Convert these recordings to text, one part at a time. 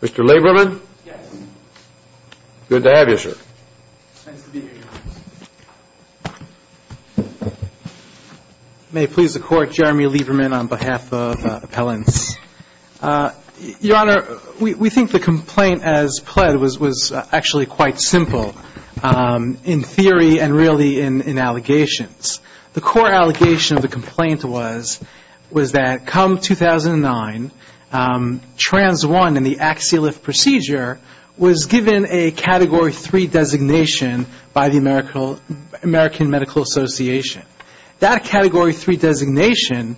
Mr. Lieberman? Yes. Good to have you, sir. Nice to be here, Your Honor. May it please the Court, Jeremy Lieberman on behalf of Appellants. Your Honor, we think the complaint as pled was actually quite simple in theory and really in allegations. The core allegation of the complaint was that come 2009, trans 1 in the Axialift procedure was given a Category 3 designation by the American Medical Association. That Category 3 designation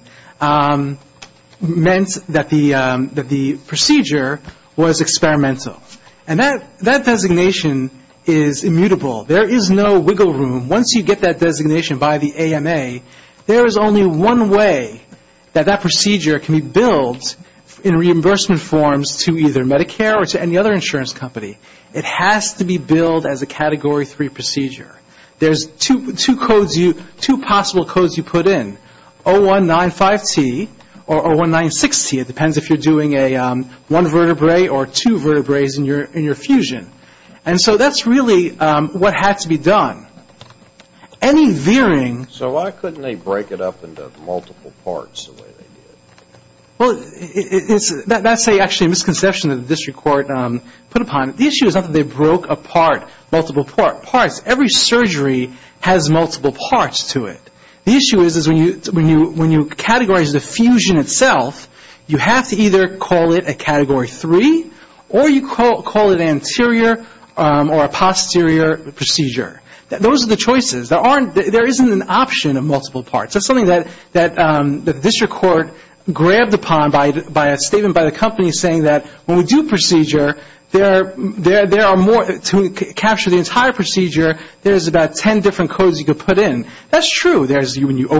meant that the procedure was experimental. And that designation is immutable. There is no wiggle room. Once you get that designation by the AMA, there is only one way that that procedure can be billed in reimbursement forms to either Medicare or to any other insurance company. It has to be billed as a Category 3 procedure. There's two possible codes you can put in, 0195T or 0196T. It depends if you're doing a one-vertebrae or two-vertebraes in your fusion. And so that's really what had to be done. Any veering So why couldn't they break it up into multiple parts the way they did? Well, that's actually a misconception that the District Court put upon it. The issue is not that they broke apart multiple parts. Every surgery has multiple parts to it. The issue is when you categorize the fusion itself, you have to either call it a Category 3 or you call it an anterior or a posterior procedure. Those are the choices. There isn't an option of multiple parts. That's something that the District Court grabbed upon by a statement by the company saying that when we do procedure, to capture the entire procedure, there's about 10 different codes you can put in. That's true. When you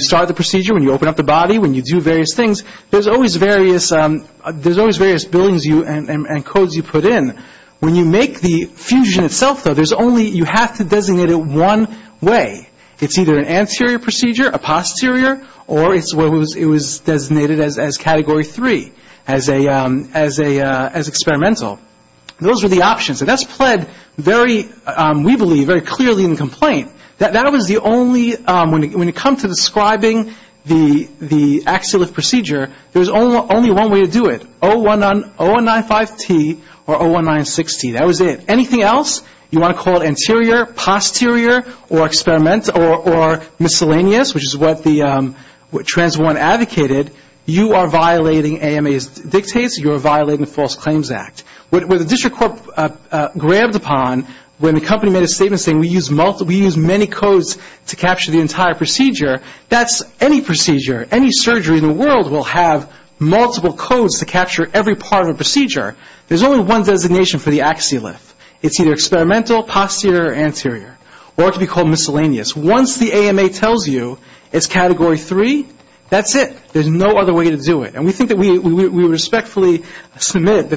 start the procedure, when you open up the body, when you do various things, there's always various billions and codes you put in. When you make the fusion itself, though, you have to designate it one way. It's either an anterior procedure, a posterior, or it was designated as Category 3, as experimental. Those are the options. That's pled very, we believe, very clearly in the complaint. That was the only, when it comes to describing the axial lift procedure, there's only one way to do it, 0195T or 0196T. That was it. Anything else, you want to call it anterior, posterior, or experimental, or miscellaneous, which is what the Trans1 advocated, you are violating the False Claims Act. What the District Court grabbed upon when the company made a statement saying we use many codes to capture the entire procedure, that's any procedure, any surgery in the world will have multiple codes to capture every part of a procedure. There's only one designation for the axial lift. It's either experimental, posterior, or anterior, or it can be called miscellaneous. Once the AMA tells you it's submit,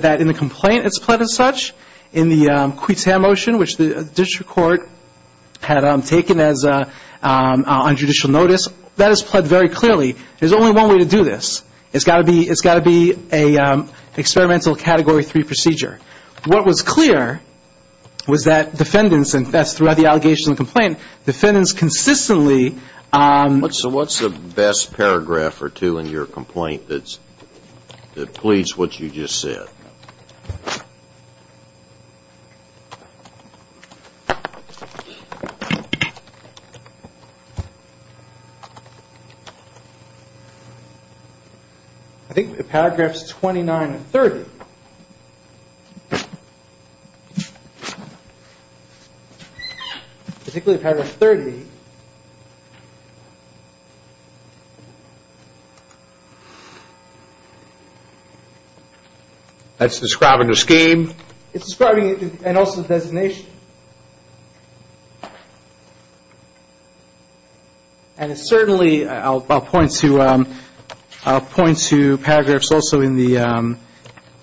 that in the complaint it's pled as such, in the Cuitamotion, which the District Court had taken as a, on judicial notice, that is pled very clearly. There's only one way to do this. It's got to be, it's got to be a experimental Category 3 procedure. What was clear was that defendants, and that's throughout the allegation and complaint, defendants consistently. So what's the best paragraph or two in your complaint that's, that pleads what you just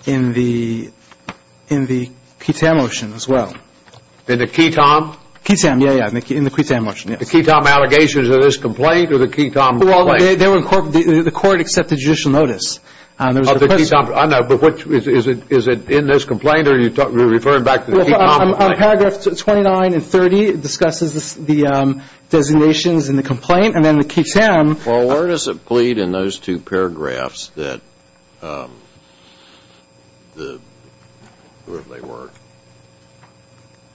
in the Cuitamotion as well. In the Cuitam? Cuitam, yeah, yeah, in the Cuitamotion, yes. The Cuitam allegations of this complaint or the Cuitam complaint? Well, they were incorporated, the court accepted judicial notice. Oh, the Cuitam, I know, but what, is it, is it in this complaint, or are you referring back to the Cuitam complaint? Well, on paragraphs 29 and 30, it discusses the designations in the complaint, and then the Cuitam. Well, where does it plead in those two paragraphs that the, what were they?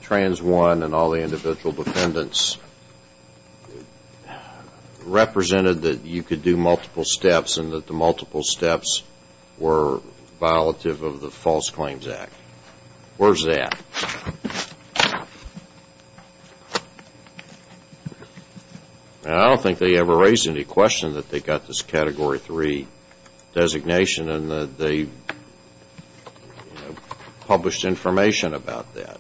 Trans 1 and all the individual defendants represented that you could do multiple steps and that the multiple steps were violative of the False Claims Act. Where's that? I don't think they ever raised any question that they got this Category 3 designation and that they, you know, published information about that.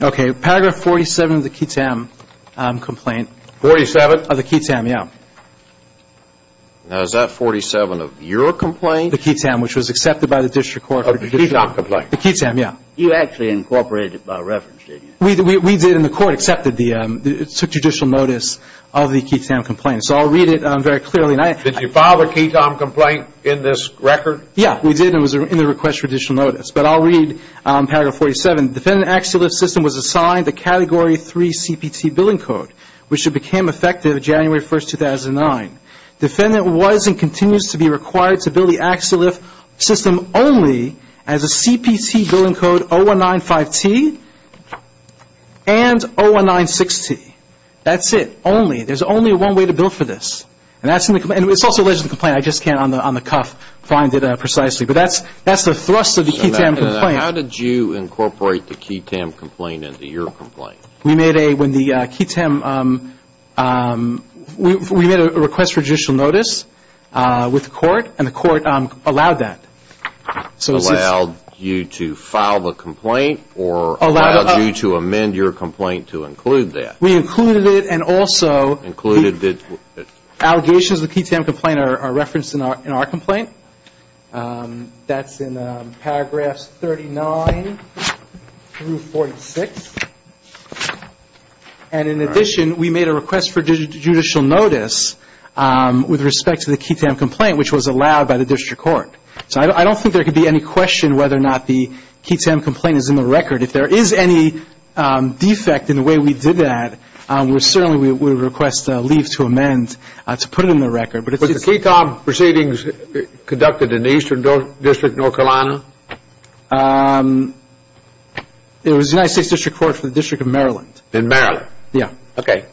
Okay. Paragraph 47 of the Cuitam complaint. 47? Of the Cuitam, yeah. Now, is that 47 of your complaint? The Cuitam, which was accepted by the district court. Of the Cuitam complaint. The Cuitam, yeah. You actually incorporated it by reference, did you? We did, and the court accepted the, took judicial notice of the Cuitam complaint. So I'll read it very clearly. Did you file a Cuitam complaint in this record? Yeah, we did, and it was in the request for judicial notice. But I'll read paragraph 47. Defendant Axeliff's system was assigned the Category 3 CPT billing code, which became effective January 1, 2009. Defendant was and continues to be required to bill the Axeliff system only as a CPT billing code 0195T and 0196T. That's it. Only. There's only one way to bill for this. And that's in the complaint. It's also alleged in the complaint. I just can't, on the cuff, find it precisely. But that's the thrust of the Cuitam complaint. Now, how did you incorporate the Cuitam complaint into your complaint? We made a, when the Cuitam, we made a request for judicial notice with the court, and the court allowed that. Allowed you to file the complaint, or allowed you to amend your complaint to include that? We included it, and also, allegations of the Cuitam complaint are referenced in our complaint. That's in paragraphs 39 through 46. And in addition, we made a request for judicial notice with respect to the Cuitam complaint, which was allowed by the district court. So I don't think there could be any question whether or not the Cuitam complaint is in the record. If there is any defect in the way we did that, we certainly would request leave to amend to put it in the record. But the Cuitam proceedings conducted in the Eastern District, North Carolina? It was the United States District Court for the District of Maryland. In Maryland? Yeah. Okay.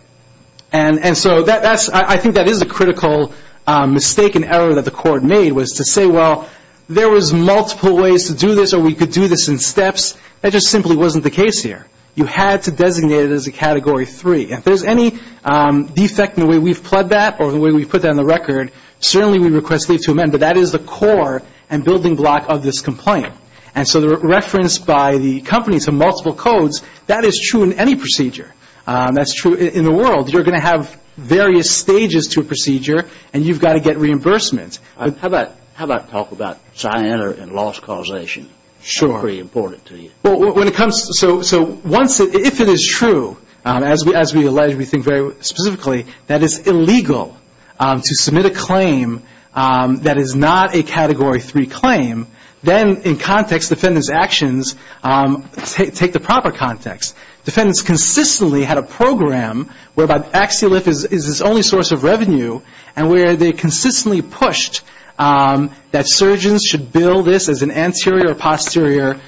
And so that's, I think that is a critical mistake and error that the court made, was to say, well, there was multiple ways to do this, or we could do this in steps. That just simply wasn't the case here. You had to designate it as a Category 3. If there's any defect in the way we've pled that, or the way we've put that in the record, certainly we request leave to amend. But that is the core and building block of this complaint. And so the reference by the company to multiple codes, that is true in any procedure. That's true in the world. You're going to have various stages to a procedure, and you've got to get reimbursement. How about talk about cyanide and loss causation? Sure. That's pretty important to you. Well, when it comes to, so once, if it is true, as we allege, we think very specifically, that it's illegal to submit a claim that is not a Category 3 claim, then in context, defendant's actions take the proper context. Defendants consistently had a program whereby Axi-Lift is its only source of revenue, and where they consistently pushed that surgeons should bill this as an anterior or posterior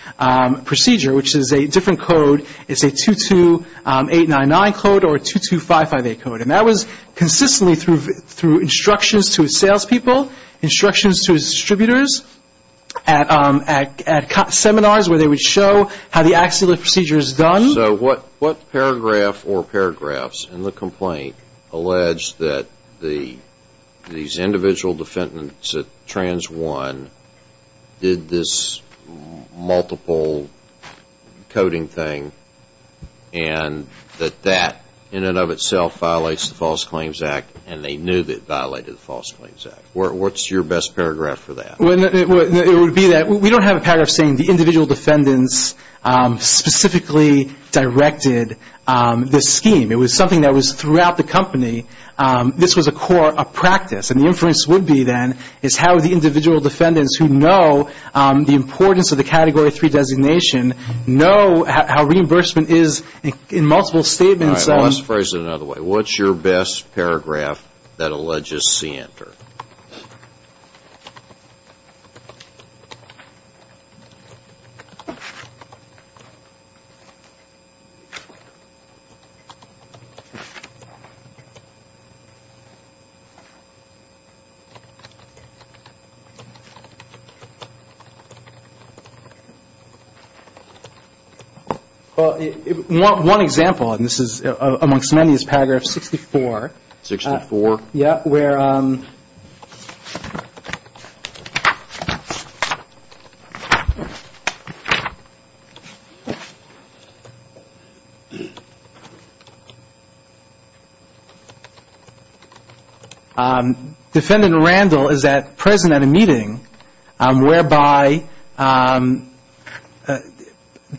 procedure, which is a different code. It's a 22899 code or 22558 code. And that was consistently through instructions to salespeople, instructions to distributors, at seminars where they would show how the Axi-Lift procedure is done. So what paragraph or paragraphs in the complaint allege that these individual defendants at Trans 1 did this multiple coding thing, and that that in and of itself violates the False Claims Act, and they knew that it violated the False Claims Act? What's your best paragraph for that? Well, it would be that we don't have a paragraph saying the individual defendants specifically directed this scheme. It was something that was throughout the company. This was a core of practice, and the inference would be then is how the individual defendants who know the importance of the Category 3 designation know how reimbursement is in multiple statements. All right. Well, let's phrase it another way. What's your best paragraph that alleges C enter? One example, and this is amongst many, is paragraph 64. 64? Yes, where Defendant Randall is present at a meeting whereby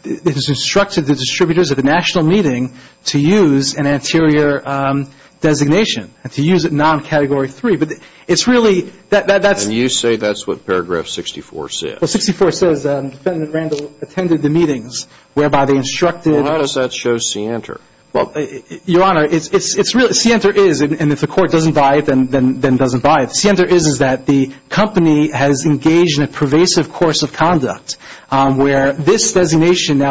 it is instructed the distributors at the national meeting to use an anterior designation, to use it non-Category 3. But it's really that's And you say that's what paragraph 64 says? Well, 64 says that Defendant Randall attended the meetings whereby they instructed Well, how does that show C enter? Well, Your Honor, it's really C enter is, and if the court doesn't buy it, then doesn't buy it. C enter is that the company has engaged in a pervasive course of conduct where this And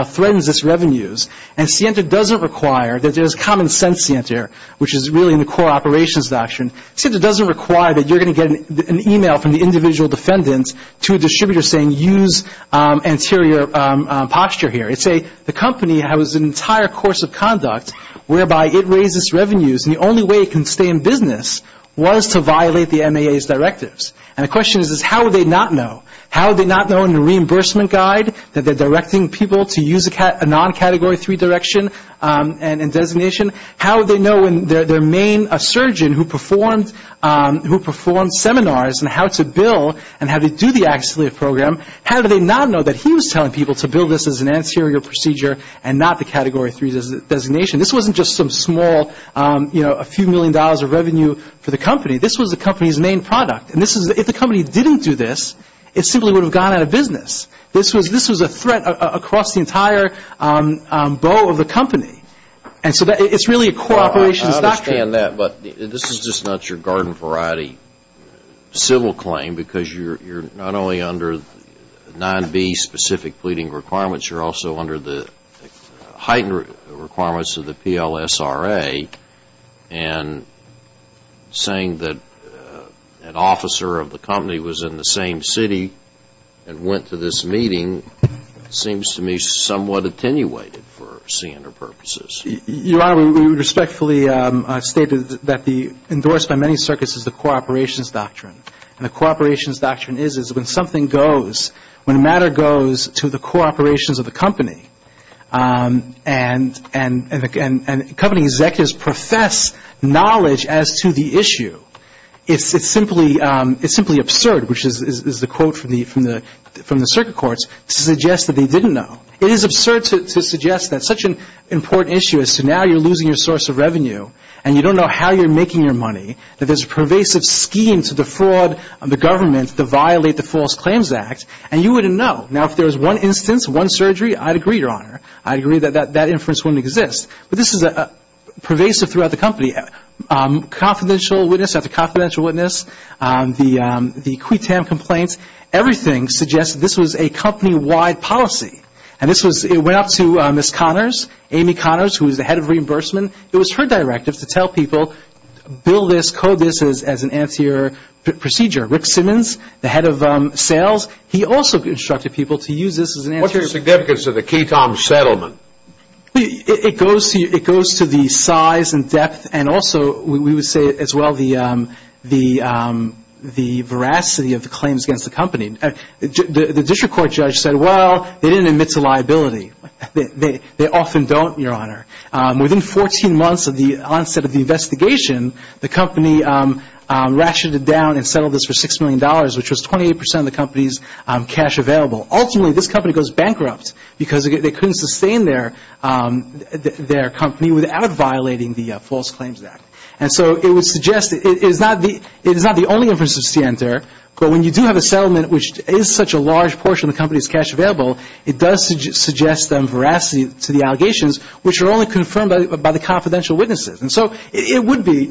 C enter doesn't require that there's common sense C enter, which is really in the core operations doctrine. C enter doesn't require that you're going to get an email from the individual defendants to a distributor saying use anterior posture here. It's a the company has an entire course of conduct whereby it raises revenues, and the only way it can stay in business was to violate the MAA's directives. And the question is how would they not know? How would they not know in the reimbursement guide that they're directing people to use a non-Category 3 direction and designation? How would they know when their main surgeon who performed seminars and how to bill and how to do the accidently program, how do they not know that he was telling people to bill this as an anterior procedure and not the Category 3 designation? This wasn't just some small, you know, a few million dollars of revenue for the company. This was the company's main product. And if the company didn't do this, it simply would have gone out of business. This was a threat across the entire bow of the company. And so it's really a core operations doctrine. I understand that, but this is just not your garden variety civil claim because you're not only under 9B specific pleading requirements, you're also under the heightened requirements of the PLSRA. And saying that an officer of the company was in the same city and went to this meeting seems to me somewhat attenuated for CNR purposes. Your Honor, we respectfully stated that the endorsed by many circuits is the core operations doctrine. And the core operations doctrine is when something goes, when a matter goes to the core operations of the company and company executives profess knowledge as to the issue, it's simply absurd, which is the quote from the circuit courts, to suggest that they didn't know. It is absurd to suggest that such an important issue as to now you're losing your source of revenue and you don't know how you're making your money, that there's a pervasive scheme to defraud the government to violate the False Claims Act, and you wouldn't know. Now, if there's one instance, one surgery, I'd agree, Your Honor. I'd agree that that inference wouldn't exist. But this is pervasive throughout the company. Confidential witness after confidential witness, the quitam complaints, everything suggests this was a company-wide policy. And this was, it went up to Ms. Connors, Amy Connors, who was the head of reimbursement. It was her directive to tell people, bill this, code this as an anterior procedure. Rick Simmons, the head of sales, he also instructed people to use this as an anterior procedure. What's the significance of the quitam settlement? It goes to the size and depth and also, we would say as well, the veracity of the claims against the company. The district court judge said, well, they didn't admit to liability. They often don't, Your Honor. Within 14 months of the onset of the investigation, the company ratcheted down and settled this for $6 million, which was 28% of the company's cash available. Ultimately, this company goes bankrupt because they couldn't sustain their company without violating the False Claims Act. And so it would suggest, it is not the only inference to enter, but when you do have a veracity to the allegations, which are only confirmed by the confidential witnesses. And so it would be,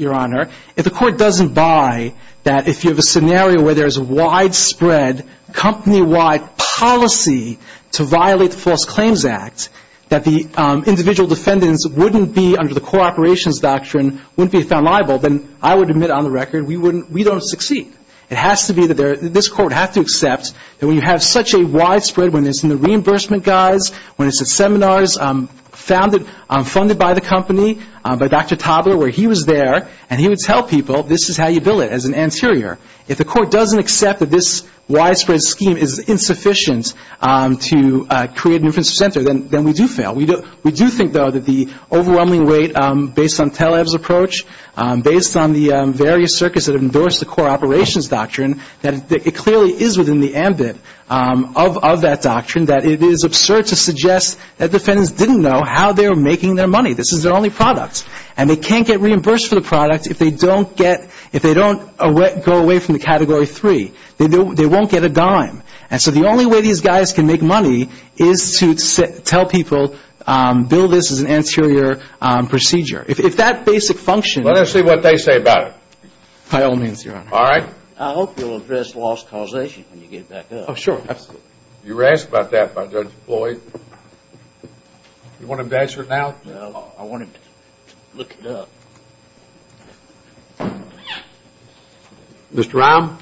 Your Honor, if the court doesn't buy that if you have a scenario where there is widespread company-wide policy to violate the False Claims Act, that the individual defendants wouldn't be under the co-operations doctrine, wouldn't be found liable, then I would admit on the record, we don't succeed. It has to be that this court has to accept that when you have such a widespread witness and the reimbursement guys, when it's at seminars funded by the company, by Dr. Tobler, where he was there, and he would tell people, this is how you bill it, as an anterior. If the court doesn't accept that this widespread scheme is insufficient to create an inference to center, then we do fail. We do think, though, that the overwhelming rate, based on Taleb's approach, based on the various circuits that have endorsed the co-operations doctrine, that it clearly is in the ambit of that doctrine that it is absurd to suggest that defendants didn't know how they were making their money. This is their only product. And they can't get reimbursed for the product if they don't get – if they don't go away from the Category 3. They won't get a dime. And so the only way these guys can make money is to tell people, bill this as an anterior procedure. If that basic function is – Let us see what they say about it. By all means, Your Honor. All right. I hope you'll address lost causation when you get back up. Oh, sure. Absolutely. You were asked about that by Judge Floyd. You want him to answer it now? Well, I want him to look it up. Mr. Rahm?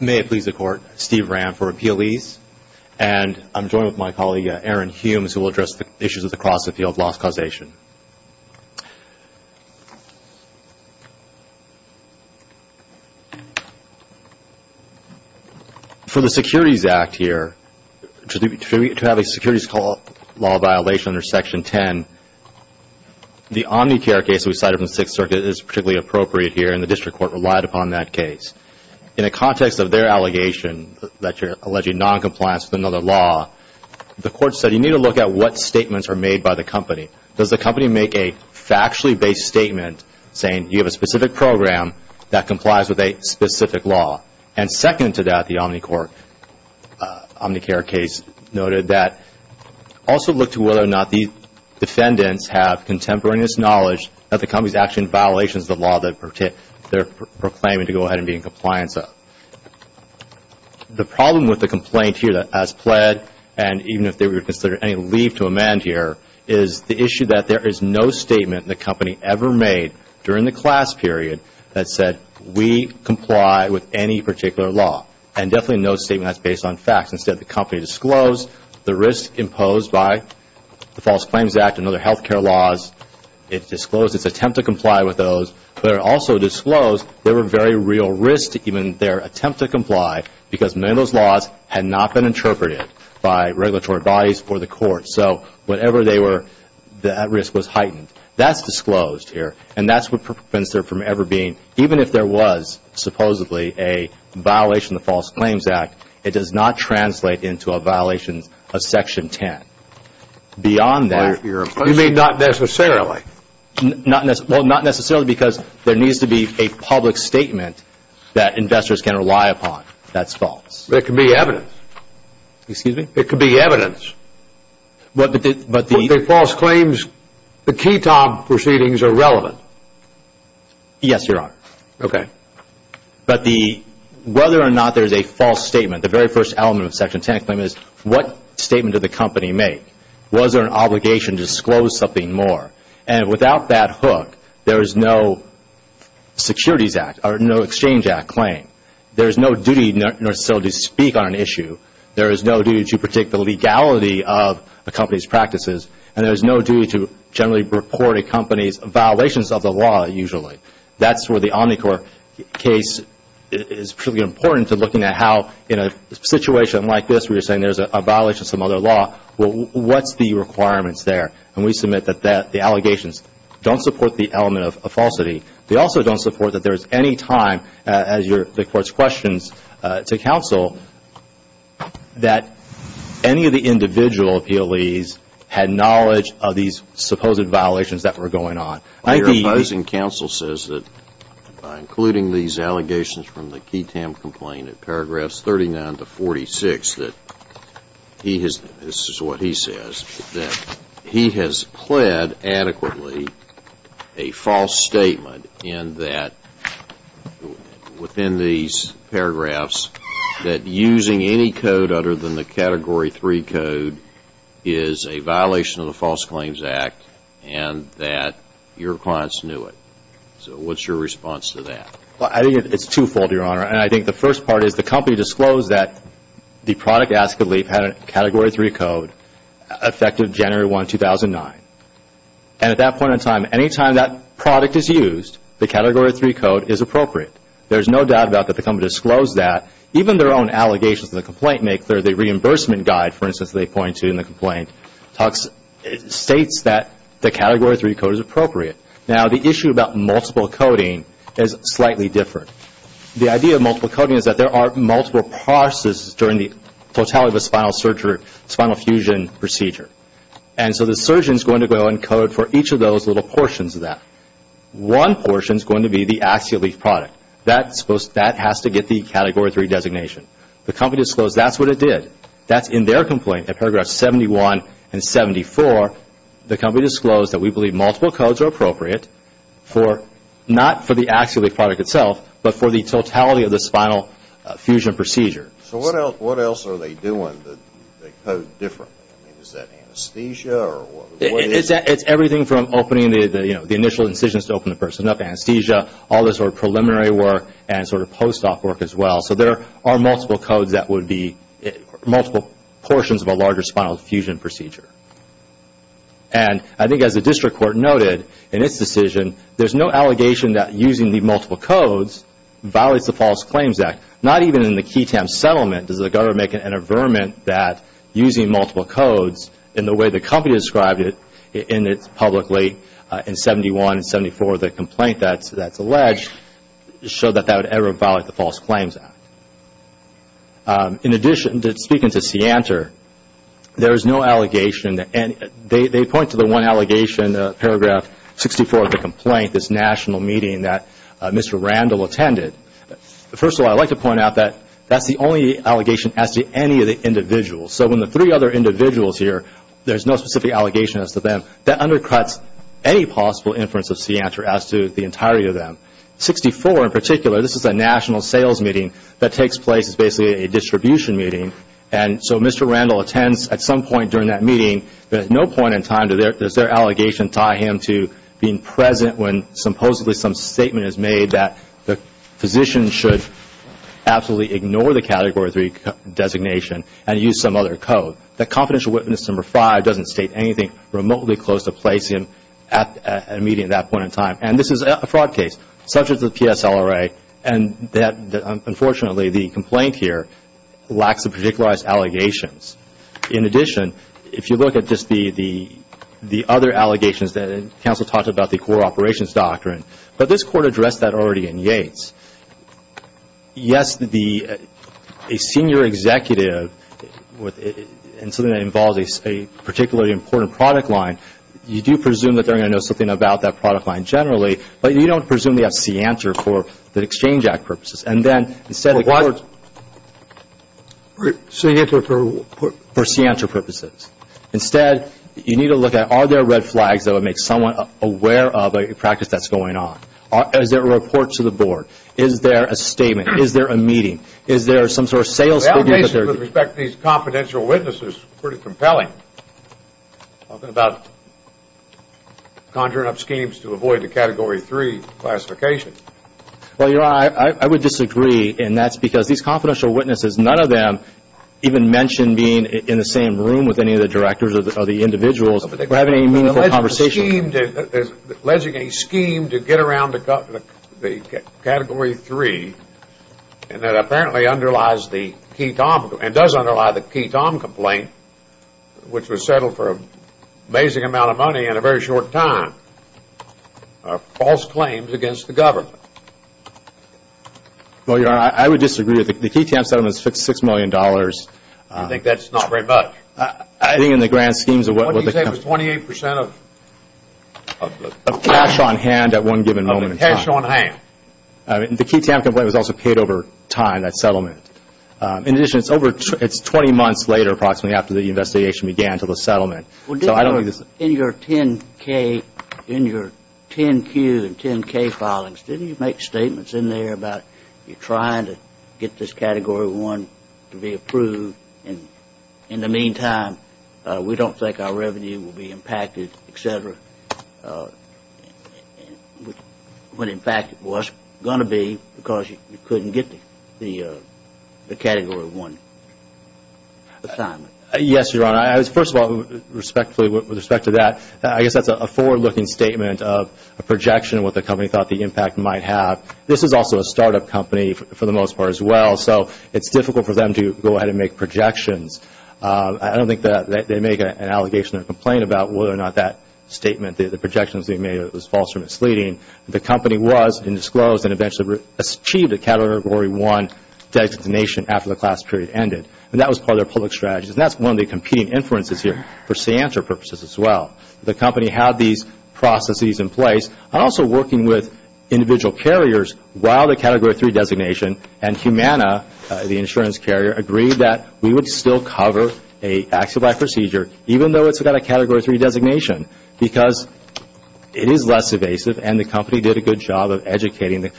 May it please the Court, Steve Rahm for Appealese. And I'm joined with my colleague, Aaron Humes, who will address the issues across the field of lost causation. For the Securities Act here, to have a securities law violation under Section 10, the Omnicare case we cited from the Sixth Circuit is particularly appropriate here, and the District Court relied upon that case. In the context of their allegation that you're alleging noncompliance with another law, the Court said you need to look at what statements are made by the company. Does the company make a factually-based statement saying you have a specific program that complies with a specific law? And second to that, the Omnicare case noted that also look to whether or not the defendants have contemporaneous knowledge that the company is actually in violation of the law that they're proclaiming to go ahead and be in compliance of. The problem with the complaint here that has pled, and even if they were to consider any to amend here, is the issue that there is no statement the company ever made during the class period that said we comply with any particular law, and definitely no statement that's based on facts. Instead, the company disclosed the risk imposed by the False Claims Act and other health care laws. It disclosed its attempt to comply with those, but it also disclosed there were very real risks to even their attempt to comply because many of those laws had not been interpreted by regulatory bodies or the Court. So, whatever they were, that risk was heightened. That's disclosed here, and that's what prevents there from ever being, even if there was supposedly a violation of the False Claims Act, it does not translate into a violation of Section 10. Beyond that... You mean not necessarily? Well, not necessarily because there needs to be a public statement that investors can rely upon. That's false. But it could be evidence. Excuse me? It could be evidence. But the... But the... But the False Claims... The KTOB proceedings are relevant. Yes, Your Honor. Okay. But the... Whether or not there's a false statement, the very first element of Section 10 is what statement did the company make? Was there an obligation to disclose something more? And without that hook, there is no Securities Act, or no Exchange Act claim. There's no duty to speak on an issue. There is no duty to protect the legality of a company's practices, and there's no duty to generally report a company's violations of the law, usually. That's where the Omnicorp case is particularly important to looking at how, in a situation like this where you're saying there's a violation of some other law, what's the requirements there? And we submit that the allegations don't support the element of falsity. They also don't support that there's any time, as the Court's questions to counsel, that any of the individual appealees had knowledge of these supposed violations that were going on. I think the... Your opposing counsel says that, by including these allegations from the KTAM complaint at paragraphs 39 to 46, that he has... in that, within these paragraphs, that using any code other than the Category 3 code is a violation of the False Claims Act, and that your clients knew it. So what's your response to that? Well, I think it's twofold, Your Honor, and I think the first part is the company disclosed that the product, Ask Aleep, had a Category 3 code effective January 1, 2009, and at that product is used, the Category 3 code is appropriate. There's no doubt about that the company disclosed that. Even their own allegations to the complaint make clear the reimbursement guide, for instance, they point to in the complaint, states that the Category 3 code is appropriate. Now the issue about multiple coding is slightly different. The idea of multiple coding is that there are multiple processes during the totality of a spinal fusion procedure, and so the surgeon is going to go and code for each of those little portions of that. One portion is going to be the Ask Aleep product. That has to get the Category 3 designation. The company disclosed that's what it did. That's in their complaint, in paragraphs 71 and 74, the company disclosed that we believe multiple codes are appropriate, not for the Ask Aleep product itself, but for the totality of the spinal fusion procedure. So what else are they doing that they code differently? Is that anesthesia? It's everything from opening the initial incisions to open the person up, anesthesia, all this sort of preliminary work, and sort of post-op work as well. So there are multiple codes that would be multiple portions of a larger spinal fusion procedure. And I think as the District Court noted in its decision, there's no allegation that using the multiple codes violates the False Claims Act. Not even in the QI-TAM settlement does the government make an averment that using multiple codes in the way the company described it publicly in 71 and 74 of the complaint that's alleged showed that that would ever violate the False Claims Act. In addition, speaking to Seantor, there is no allegation, and they point to the one allegation, paragraph 64 of the complaint, this national meeting that Mr. Randall attended. First of all, I'd like to point out that that's the only allegation as to any of the individuals. So when the three other individuals here, there's no specific allegation as to them, that undercuts any possible inference of Seantor as to the entirety of them. 64 in particular, this is a national sales meeting that takes place as basically a distribution meeting and so Mr. Randall attends at some point during that meeting, but at no point in time does their allegation tie him to being present when supposedly some statement is made that the physician should absolutely ignore the Category 3 designation and use some other code. That Confidential Witness Number 5 doesn't state anything remotely close to placing him at a meeting at that point in time. And this is a fraud case subject to the PSLRA and that unfortunately the complaint here lacks the particularized allegations. In addition, if you look at just the other allegations that counsel talked about the core operations doctrine, but this court addressed that already in Yates. Yes, a senior executive and something that involves a particularly important product line, you do presume that they're going to know something about that product line generally, but you don't presume they have Seantor for the Exchange Act purposes. And then instead of courts, for Seantor purposes, instead you need to look at are there red flags that would make someone aware of a practice that's going on. Is there a report to the board? Is there a statement? Is there a meeting? Is there some sort of sales? The allegation with respect to these confidential witnesses is pretty compelling, talking about conjuring up schemes to avoid the Category 3 classification. Well, Your Honor, I would disagree and that's because these confidential witnesses, none of them even mention being in the same room with any of the directors or the individuals or having any meaningful conversations. Alleging a scheme to get around the Category 3 and that apparently underlies the Key Tom complaint, and does underlie the Key Tom complaint, which was settled for an amazing amount of money in a very short time, are false claims against the government. Well, Your Honor, I would disagree with it. The Key Tom settlement is $66 million. I think that's not very much. I think in the grand schemes of what was the company... What do you say was 28% of the... Of cash on hand at one given moment in time. Of the cash on hand. The Key Tom complaint was also paid over time, that settlement. In addition, it's over, it's 20 months later approximately after the investigation began to the settlement, so I don't think this... In your 10-K, in your 10-Q and 10-K filings, didn't you make statements in there about you're trying to get this Category 1 to be approved, and in the meantime, we don't think our revenue will be impacted, et cetera, when in fact it was going to be because you couldn't get the Category 1 assignment? Yes, Your Honor. First of all, respectfully, with respect to that, I guess that's a forward-looking statement of a projection of what the company thought the impact might have. This is also a start-up company for the most part as well, so it's difficult for them to go ahead and make projections. I don't think that they make an allegation or a complaint about whether or not that statement, the projections they made, was false or misleading. The company was, and disclosed, and eventually achieved a Category 1 designation after the class period ended, and that was part of their public strategy, and that's one of the competing inferences here for SEANTRA purposes as well. The company had these processes in place, and also working with individual carriers while the Category 3 designation, and Humana, the insurance carrier, agreed that we would still cover a active life procedure, even though it's got a Category 3 designation, because it is less evasive, and the company did a good job of educating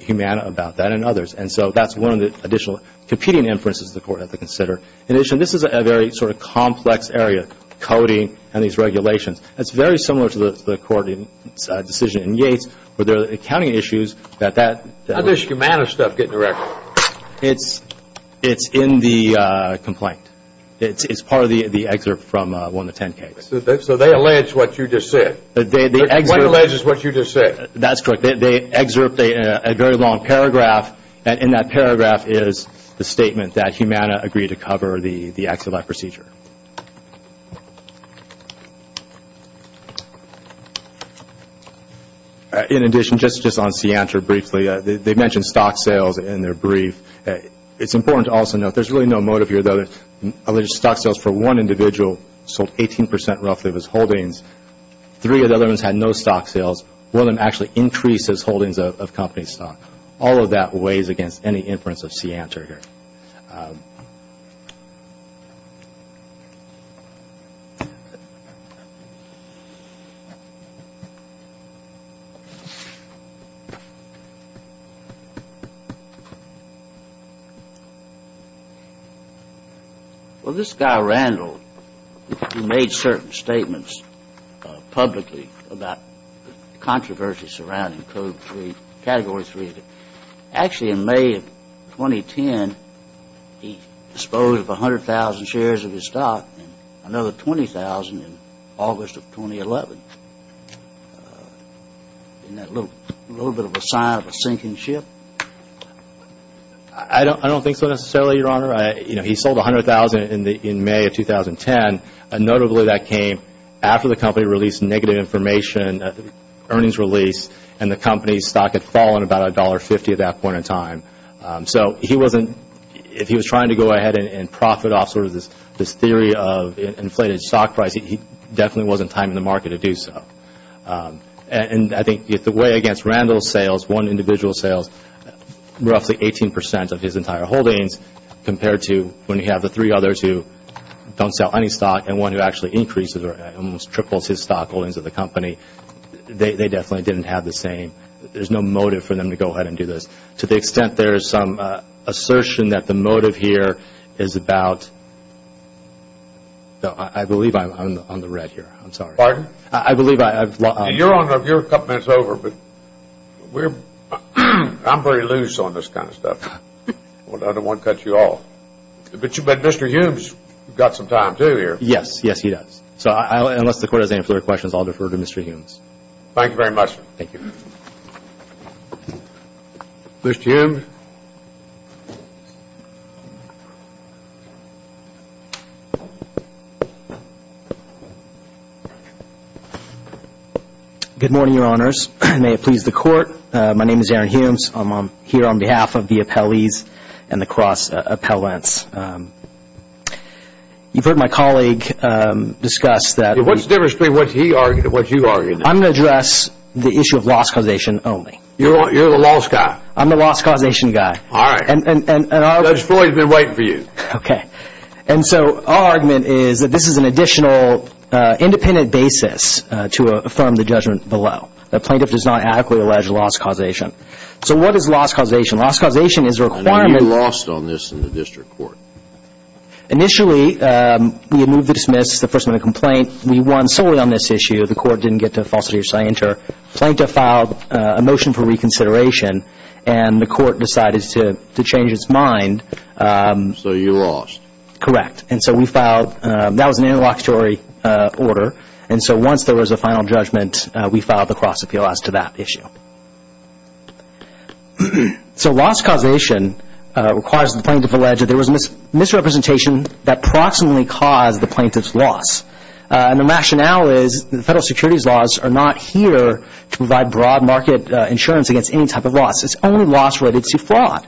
Humana about that and others, and so that's one of the additional competing inferences the Court had to consider. This is a very sort of complex area, coding and these regulations. It's very similar to the Court's decision in Yates, where there are accounting issues that that... How does Humana's stuff get in the record? It's in the complaint. It's part of the excerpt from one of the 10 cases. So they allege what you just said? They excerpt... What alleges what you just said? That's correct. They excerpt a very long paragraph, and in that paragraph is the statement that Humana agreed to cover the active life procedure. In addition, just on SEANTR briefly, they mentioned stock sales in their brief. It's important to also note, there's really no motive here, though. Stock sales for one individual sold 18 percent, roughly, of his holdings. Three of the other ones had no stock sales. One of them actually increased his holdings of company stock. All of that weighs against any inference of SEANTR here. Well, this guy, Randall, who made certain statements publicly about the controversy surrounding Code 3, Category 3, actually in May of 2010, he disposed of 100,000 shares of his stock, and another 20,000 in August of 2011. Isn't that a little bit of a sign of a sinking ship? I don't think so, necessarily, Your Honor. He sold 100,000 in May of 2010, and notably that came after the company released negative information, earnings release, and the company's stock had fallen about $1.50 at that point in time. So, he wasn't, if he was trying to go ahead and profit off sort of this theory of inflated stock price, he definitely wasn't timing the market to do so. And I think the way against Randall's sales, one individual's sales, roughly 18 percent of his entire holdings, compared to when you have the three others who don't sell any stock and one who actually increases or almost triples his stock holdings at the company, they definitely didn't have the same, there's no motive for them to go ahead and do this. To the extent there is some assertion that the motive here is about, I believe I'm on the red here. I'm sorry. Pardon? I believe I've lost. Your Honor, you're a couple minutes over, but we're, I'm pretty loose on this kind of stuff. I don't want to cut you off. But you bet Mr. Humes got some time too here. Yes, yes he does. So, unless the Court has any further questions, I'll defer to Mr. Humes. Thank you very much. Thank you. Mr. Humes? Good morning, Your Honors. May it please the Court. My name is Aaron Humes. I'm here on behalf of the appellees and the cross-appellants. You've heard my colleague discuss that... What's the difference between what he argued and what you argued? I'm going to address the issue of loss causation only. You're the loss guy. I'm the loss causation guy. All right. Judge Floyd has been waiting for you. Okay. And so our argument is that this is an additional independent basis to affirm the judgment below. The plaintiff does not adequately allege loss causation. So what is loss causation? Loss causation is a requirement... And you lost on this in the District Court. Initially, we had moved to dismiss the first minute complaint. We won solely on this issue. The Court didn't get to a falsity of signature. Plaintiff filed a motion for reconsideration, and the Court decided to change its mind. So you lost. Correct. And so we filed... That was an interlocutory order. And so once there was a final judgment, we filed the cross-appeal as to that issue. So loss causation requires the plaintiff to allege that there was misrepresentation that proximately caused the plaintiff's loss. And the rationale is that the federal securities laws are not here to provide broad market insurance against any type of loss. It's only loss related to fraud.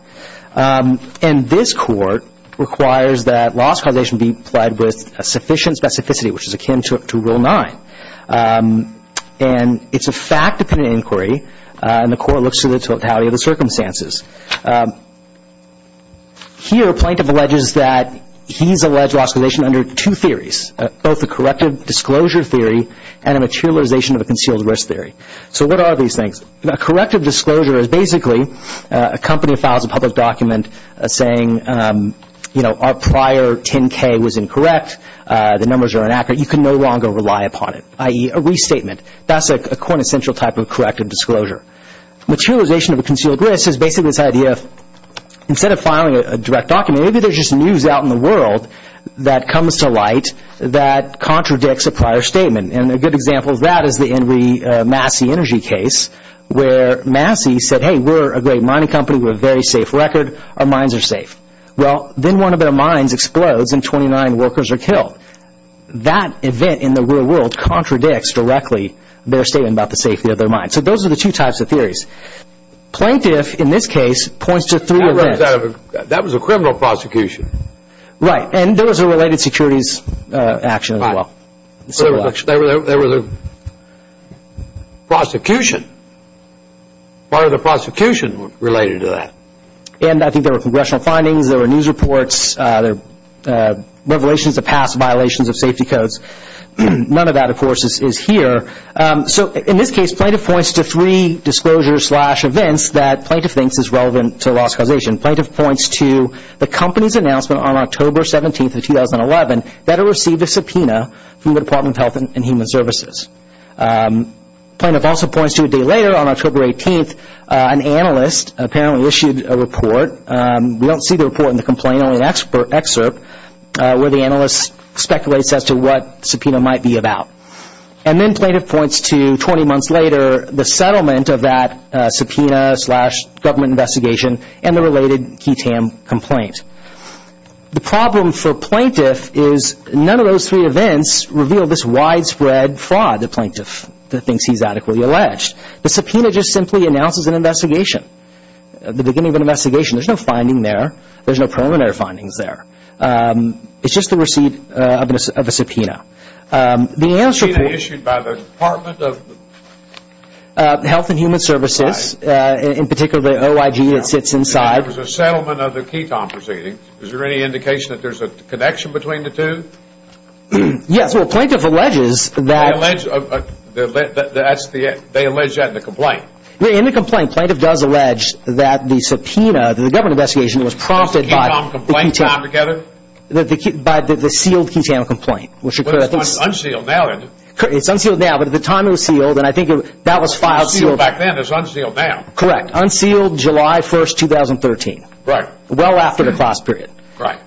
And this Court requires that loss causation be applied with a sufficient specificity, which is akin to Rule 9. And it's a fact-dependent inquiry, and the Court looks to the totality of the circumstances. Here plaintiff alleges that he's alleged loss causation under two theories, both a corrective disclosure theory and a materialization of a concealed risk theory. So what are these things? A corrective disclosure is basically a company that files a public document saying, you know, our prior 10K was incorrect, the numbers are inaccurate. You can no longer rely upon it, i.e. a restatement. That's a quintessential type of corrective disclosure. Materialization of a concealed risk is basically this idea of, instead of filing a direct document, maybe there's just news out in the world that comes to light that contradicts a prior statement. And a good example of that is the Henry Massey energy case, where Massey said, hey, we're a great mining company. We have a very safe record. Our mines are safe. Well, then one of their mines explodes and 29 workers are killed. That event in the real world contradicts directly their statement about the safety of their mines. So those are the two types of theories. Plaintiff, in this case, points to three events. That was a criminal prosecution. Right. And there was a related securities action as well. There was a prosecution, part of the prosecution related to that. And I think there were congressional findings, there were news reports, there were revelations of past violations of safety codes. None of that, of course, is here. So in this case, plaintiff points to three disclosures slash events that plaintiff thinks is relevant to the law's causation. Plaintiff points to the company's announcement on October 17th of 2011 that it received a subpoena from the Department of Health and Human Services. Plaintiff also points to a day later, on October 18th, an analyst apparently issued a report. We don't see the report in the complaint, only an excerpt where the analyst speculates as to what the subpoena might be about. And then plaintiff points to 20 months later, the settlement of that subpoena slash government investigation and the related Ketam complaint. The problem for plaintiff is none of those three events reveal this widespread fraud to plaintiff that thinks he's adequately alleged. The subpoena just simply announces an investigation, the beginning of an investigation. There's no finding there. There's no preliminary findings there. It's just the receipt of a subpoena. The analyst reported... Subpoena issued by the Department of... Health and Human Services, in particular the OIG that sits inside... There was a settlement of the Ketam proceedings. Is there any indication that there's a connection between the two? Yes, well, plaintiff alleges that... They allege... That's the... They allege that in the complaint. In the complaint, plaintiff does allege that the subpoena, the government investigation was prompted by... The Ketam complaint altogether? By the sealed Ketam complaint. Which occurred... But it's unsealed now, isn't it? It's unsealed now, but at the time it was sealed, and I think that was filed... It was sealed back then. It's unsealed now. Correct. Unsealed July 1st, 2013. Right. Well after the cross-period. Right.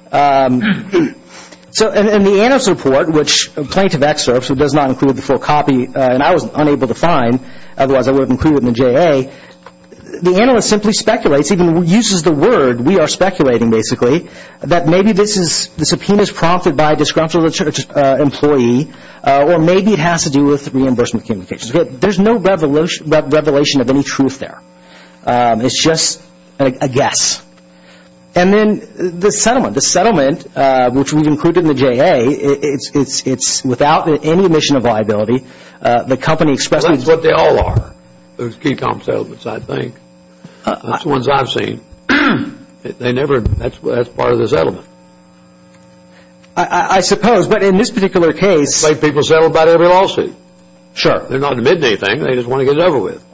So, in the analyst's report, which plaintiff excerpts, it does not include the full copy, and I was unable to find, otherwise I would have included it in the JA. The analyst simply speculates, even uses the word, we are speculating basically, that maybe this is... The subpoena is prompted by a disgruntled employee, or maybe it has to do with reimbursement communications. There's no revelation of any truth there. It's just a guess. And then the settlement, the settlement, which we've included in the JA, it's without any omission of liability. The company expressed... That's what they all are. Those key comp settlements, I think. That's the ones I've seen. They never... That's part of the settlement. I suppose, but in this particular case... They make people settle about every lawsuit. Sure. They're not admitting anything. They just want to get it over with.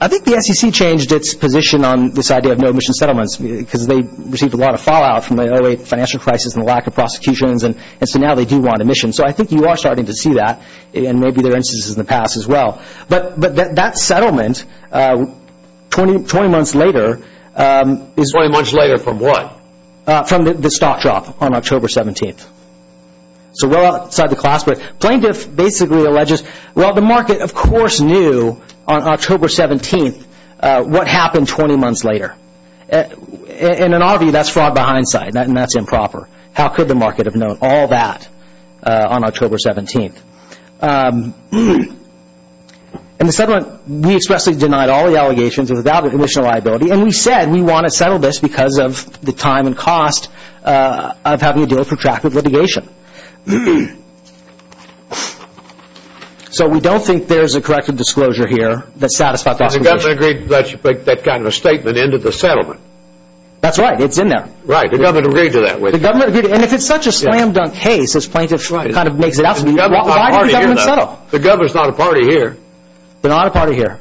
I think the SEC changed its position on this idea of no omission settlements, because they received a lot of fallout from the early financial crisis and the lack of prosecutions, and so now they do want omission. So I think you are starting to see that, and maybe there are instances in the past as well. But that settlement, 20 months later... 20 months later from what? From the stock drop on October 17th. So well outside the class, but plaintiff basically alleges, well, the market of course knew on October 17th what happened 20 months later. And in our view, that's fraud by hindsight, and that's improper. How could the market have known all that? On October 17th. And the settlement, we expressly denied all the allegations without omission of liability, and we said we want to settle this because of the time and cost of having to deal with protracted litigation. So we don't think there's a corrective disclosure here that satisfied that position. The government agreed that you put that kind of a statement into the settlement. That's right. It's in there. Right. The government agreed to that with you. The government agreed. And if it's such a slam dunk case, as plaintiff kind of makes it out to be, why did the government settle? The government's not a party here. They're not a party here.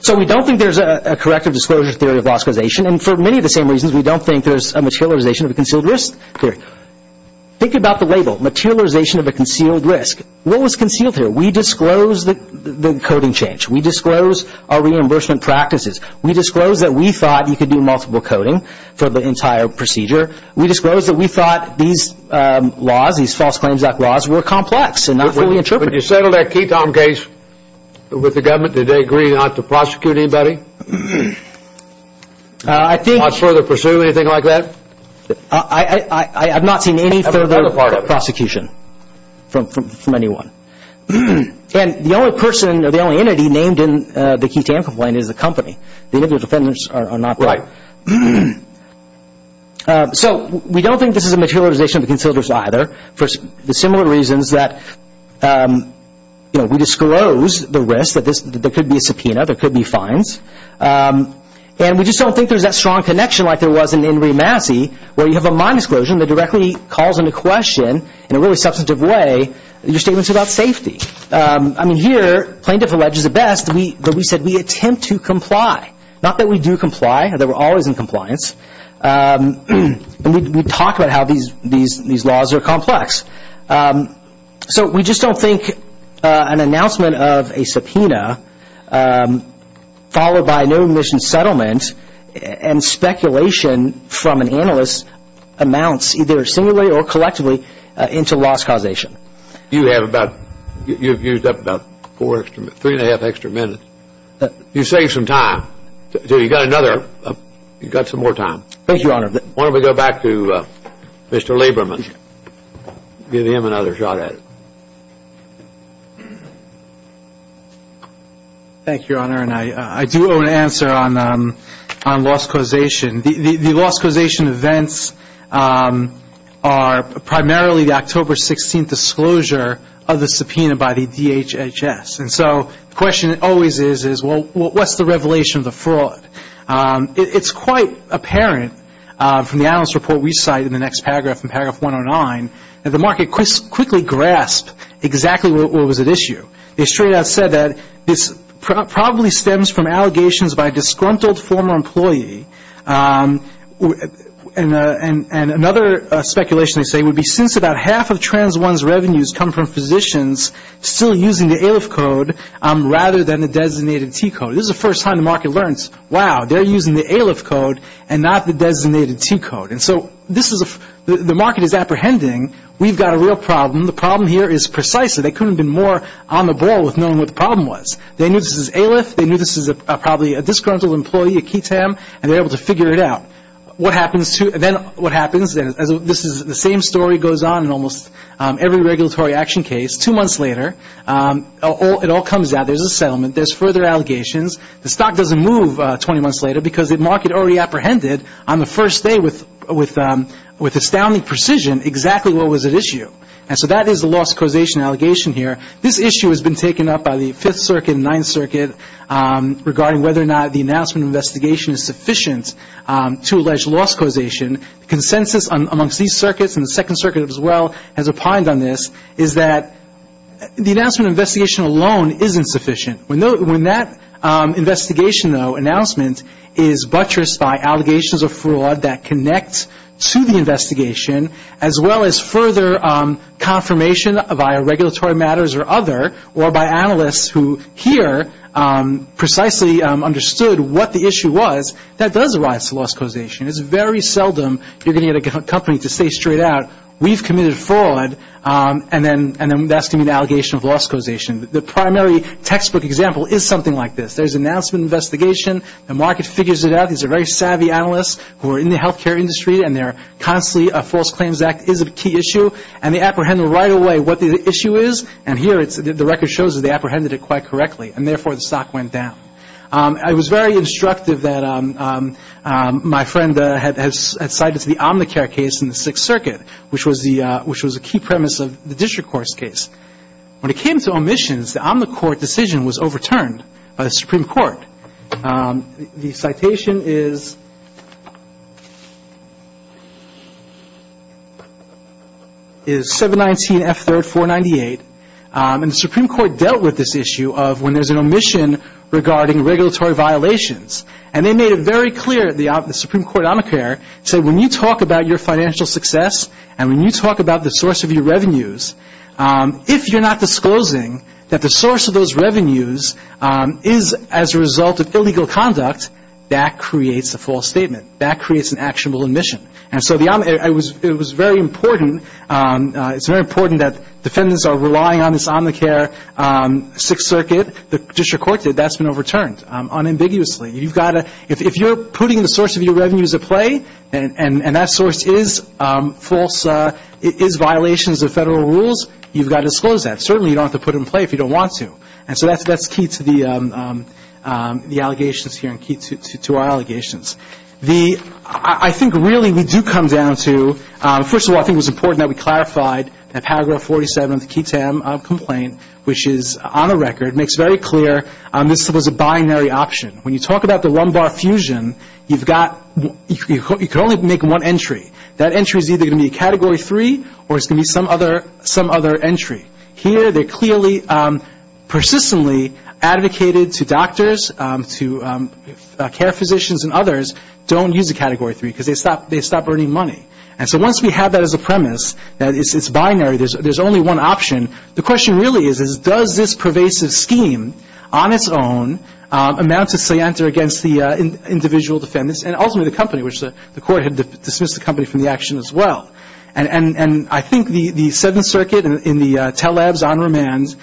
So we don't think there's a corrective disclosure theory of loss causation, and for many of the same reasons, we don't think there's a materialization of a concealed risk theory. Think about the label, materialization of a concealed risk. What was concealed here? We disclosed the coding change. We disclosed our reimbursement practices. We disclosed that we thought you could do multiple coding for the entire procedure. We disclosed that we thought these laws, these false claims act laws, were complex and not fully interpretable. When you settled that Keatom case with the government, did they agree not to prosecute anybody? I think... Not further pursue anything like that? I have not seen any further prosecution from anyone, and the only person or the only entity named in the Keatom complaint is the company. The individual defendants are not there. So we don't think this is a materialization of the concealed risk either, for the similar reasons that we disclosed the risk, that there could be a subpoena, there could be fines, and we just don't think there's that strong connection like there was in Re-Massie, where you have a mine explosion that directly calls into question, in a really substantive way, your statements about safety. I mean, here, plaintiff alleges at best that we said we attempt to comply. Not that we do comply, that we're always in compliance, and we talk about how these laws are complex. So we just don't think an announcement of a subpoena, followed by no admission settlement, and speculation from an analyst amounts, either singularly or collectively, into loss causation. You have about, you've used up about three and a half extra minutes. You saved some time. So you've got another, you've got some more time. Thank you, Your Honor. Why don't we go back to Mr. Lieberman, give him another shot at it. Thank you, Your Honor, and I do owe an answer on loss causation. The loss causation events are primarily the October 16th disclosure of the subpoena by the DHHS. And so, the question always is, well, what's the revelation of the fraud? It's quite apparent, from the analyst report we cite in the next paragraph, in paragraph 109, that the market quickly grasped exactly what was at issue. They straight out said that this probably stems from allegations by a disgruntled former employee, and another speculation they say would be since about half of Trans 1's revenues come from physicians still using the ALIF code rather than the designated T code. This is the first time the market learns, wow, they're using the ALIF code and not the designated T code. And so, this is, the market is apprehending. We've got a real problem. The problem here is precisely, they couldn't have been more on the ball with knowing what the problem was. They knew this was ALIF. They knew this was probably a disgruntled employee, a KETAM, and they're able to figure it out. What happens to, then, what happens, and this is the same story goes on in almost every regulatory action case. Two months later, it all comes out. There's a settlement. There's further allegations. The stock doesn't move 20 months later because the market already apprehended on the first day with astounding precision exactly what was at issue. And so, that is a loss causation allegation here. This issue has been taken up by the Fifth Circuit and Ninth Circuit regarding whether or not the announcement of investigation is sufficient to allege loss causation. The consensus amongst these circuits and the Second Circuit as well has opined on this is that the announcement of investigation alone isn't sufficient. When that investigation, though, announcement is buttressed by allegations of fraud that confirmation via regulatory matters or other, or by analysts who, here, precisely understood what the issue was, that does rise to loss causation. It's very seldom you're going to get a company to say straight out, we've committed fraud, and then that's going to be an allegation of loss causation. The primary textbook example is something like this. There's announcement of investigation. The market figures it out. These are very savvy analysts who are in the healthcare industry, and they're constantly false claims act is a key issue, and they apprehend right away what the issue is. And here, the record shows that they apprehended it quite correctly, and therefore, the stock went down. I was very instructive that my friend had cited the Omnicare case in the Sixth Circuit, which was a key premise of the District Court's case. When it came to omissions, the Omnicourt decision was overturned by the Supreme Court. The citation is 719F3R498, and the Supreme Court dealt with this issue of when there's an omission regarding regulatory violations, and they made it very clear, the Supreme Court Omnicare, said when you talk about your financial success, and when you talk about the source of your revenues, if you're not disclosing that the source of those revenues is as a result of illegal conduct, that creates a false statement. That creates an actionable omission. And so it was very important. It's very important that defendants are relying on this Omnicare Sixth Circuit. The District Court did. That's been overturned unambiguously. If you're putting the source of your revenues at play, and that source is false, is violations of Federal rules, you've got to disclose that. Certainly, you don't have to put it in play if you don't want to. And so that's key to the allegations here and key to our allegations. I think really we do come down to, first of all, I think it was important that we clarified that Paragraph 47 of the Keatam complaint, which is on the record, makes very clear this was a binary option. When you talk about the one-bar fusion, you could only make one entry. That entry is either going to be a Category 3 or it's going to be some other entry. Here they clearly persistently advocated to doctors, to care physicians and others, don't use a Category 3 because they stop earning money. And so once we have that as a premise that it's binary, there's only one option, the question really is, is does this pervasive scheme on its own amount to scienter against the individual defendants and ultimately the company, which the Court had dismissed the company from the action as well. And I think the Seventh Circuit in the Tell Labs on remand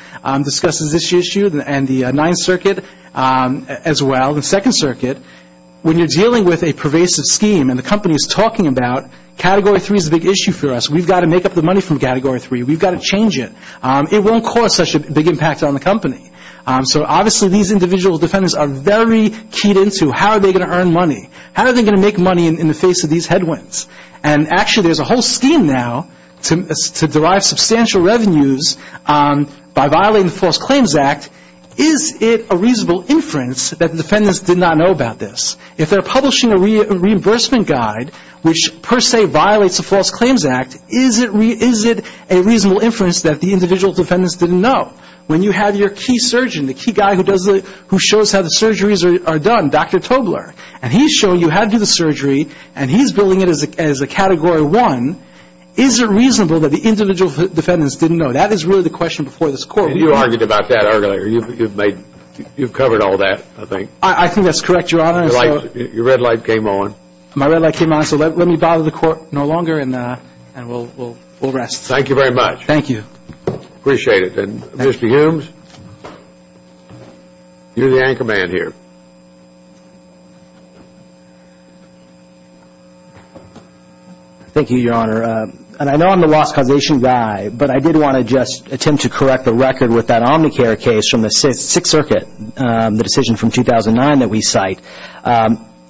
discusses this issue and the Ninth Circuit as well. The Second Circuit, when you're dealing with a pervasive scheme and the company is talking about, Category 3 is a big issue for us. We've got to make up the money from Category 3. We've got to change it. It won't cause such a big impact on the company. So obviously these individual defendants are very keyed into how are they going to earn money. How are they going to make money in the face of these headwinds? And actually there's a whole scheme now to derive substantial revenues by violating the False Claims Act. Is it a reasonable inference that the defendants did not know about this? If they're publishing a reimbursement guide, which per se violates the False Claims Act, is it a reasonable inference that the individual defendants didn't know? When you have your key surgeon, the key guy who shows how the surgeries are done, Dr. Tobler, and he's showing you how to do the surgery and he's billing it as a Category 1, is it reasonable that the individual defendants didn't know? That is really the question before this Court. You argued about that earlier. You've covered all that, I think. I think that's correct, Your Honor. Your red light came on. My red light came on, so let me bother the Court no longer and we'll rest. Thank you very much. Thank you. Appreciate it. And Mr. Humes, you're the anchorman here. Thank you, Your Honor. And I know I'm the lost causation guy, but I did want to just attempt to correct the record with that Omnicare case from the Sixth Circuit, the decision from 2009 that we cite.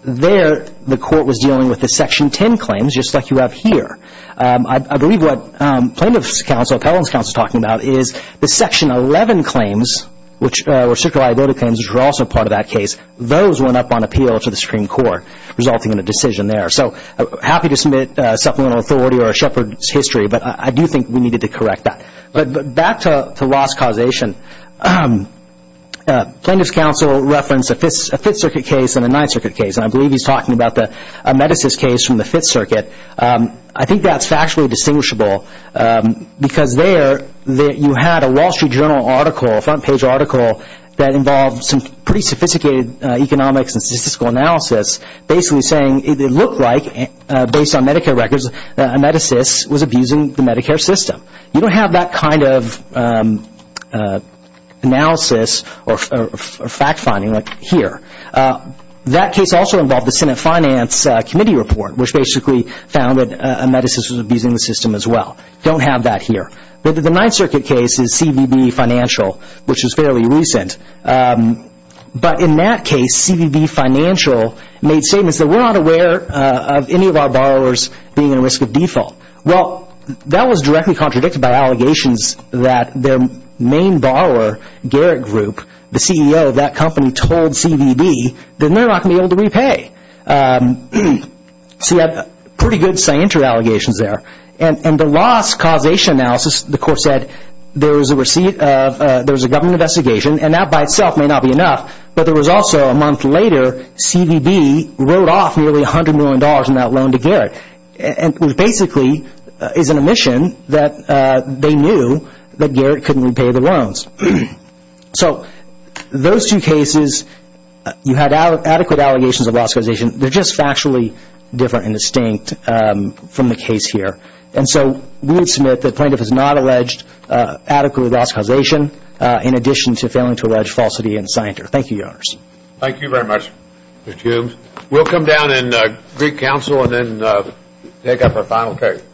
There, the Court was dealing with the Section 10 claims, just like you have here. I believe what Plaintiff's Counsel, Appellant's Counsel, is talking about is the Section 11 claims, which were circuit liability claims, which were also part of that case. Those went up on appeal to the Supreme Court, resulting in a decision there. So happy to submit supplemental authority or a shepherd's history, but I do think we needed to correct that. But back to lost causation. Plaintiff's Counsel referenced a Fifth Circuit case and a Ninth Circuit case, and I believe he's talking about the Amedesis case from the Fifth Circuit. I think that's factually distinguishable because there you had a Wall Street Journal article, a front page article that involved some pretty sophisticated economics and statistical analysis basically saying it looked like, based on Medicare records, Amedesis was abusing the Medicare system. You don't have that kind of analysis or fact finding here. That case also involved the Senate Finance Committee report, which basically found that Amedesis was abusing the system as well. Don't have that here. But the Ninth Circuit case is CBB Financial, which is fairly recent. But in that case, CBB Financial made statements that we're not aware of any of our borrowers being at risk of default. Well, that was directly contradicted by allegations that their main borrower, Garrett Group, the CEO of that company, told CBB that they're not going to be able to repay. So you have pretty good scienter allegations there. And the lost causation analysis, the court said, there was a government investigation, and that by itself may not be enough, but there was also, a month later, CBB wrote off nearly $100 million in that loan to Garrett. And it basically is an admission that they knew that Garrett couldn't repay the loans. So those two cases, you had adequate allegations of lost causation. They're just factually different and distinct from the case here. And so we would submit the plaintiff has not alleged adequate lost causation, in addition to failing to allege falsity and scienter. Thank you, Your Honors. Thank you very much, Mr. Humes. We'll come down and greet counsel and then take up our final case.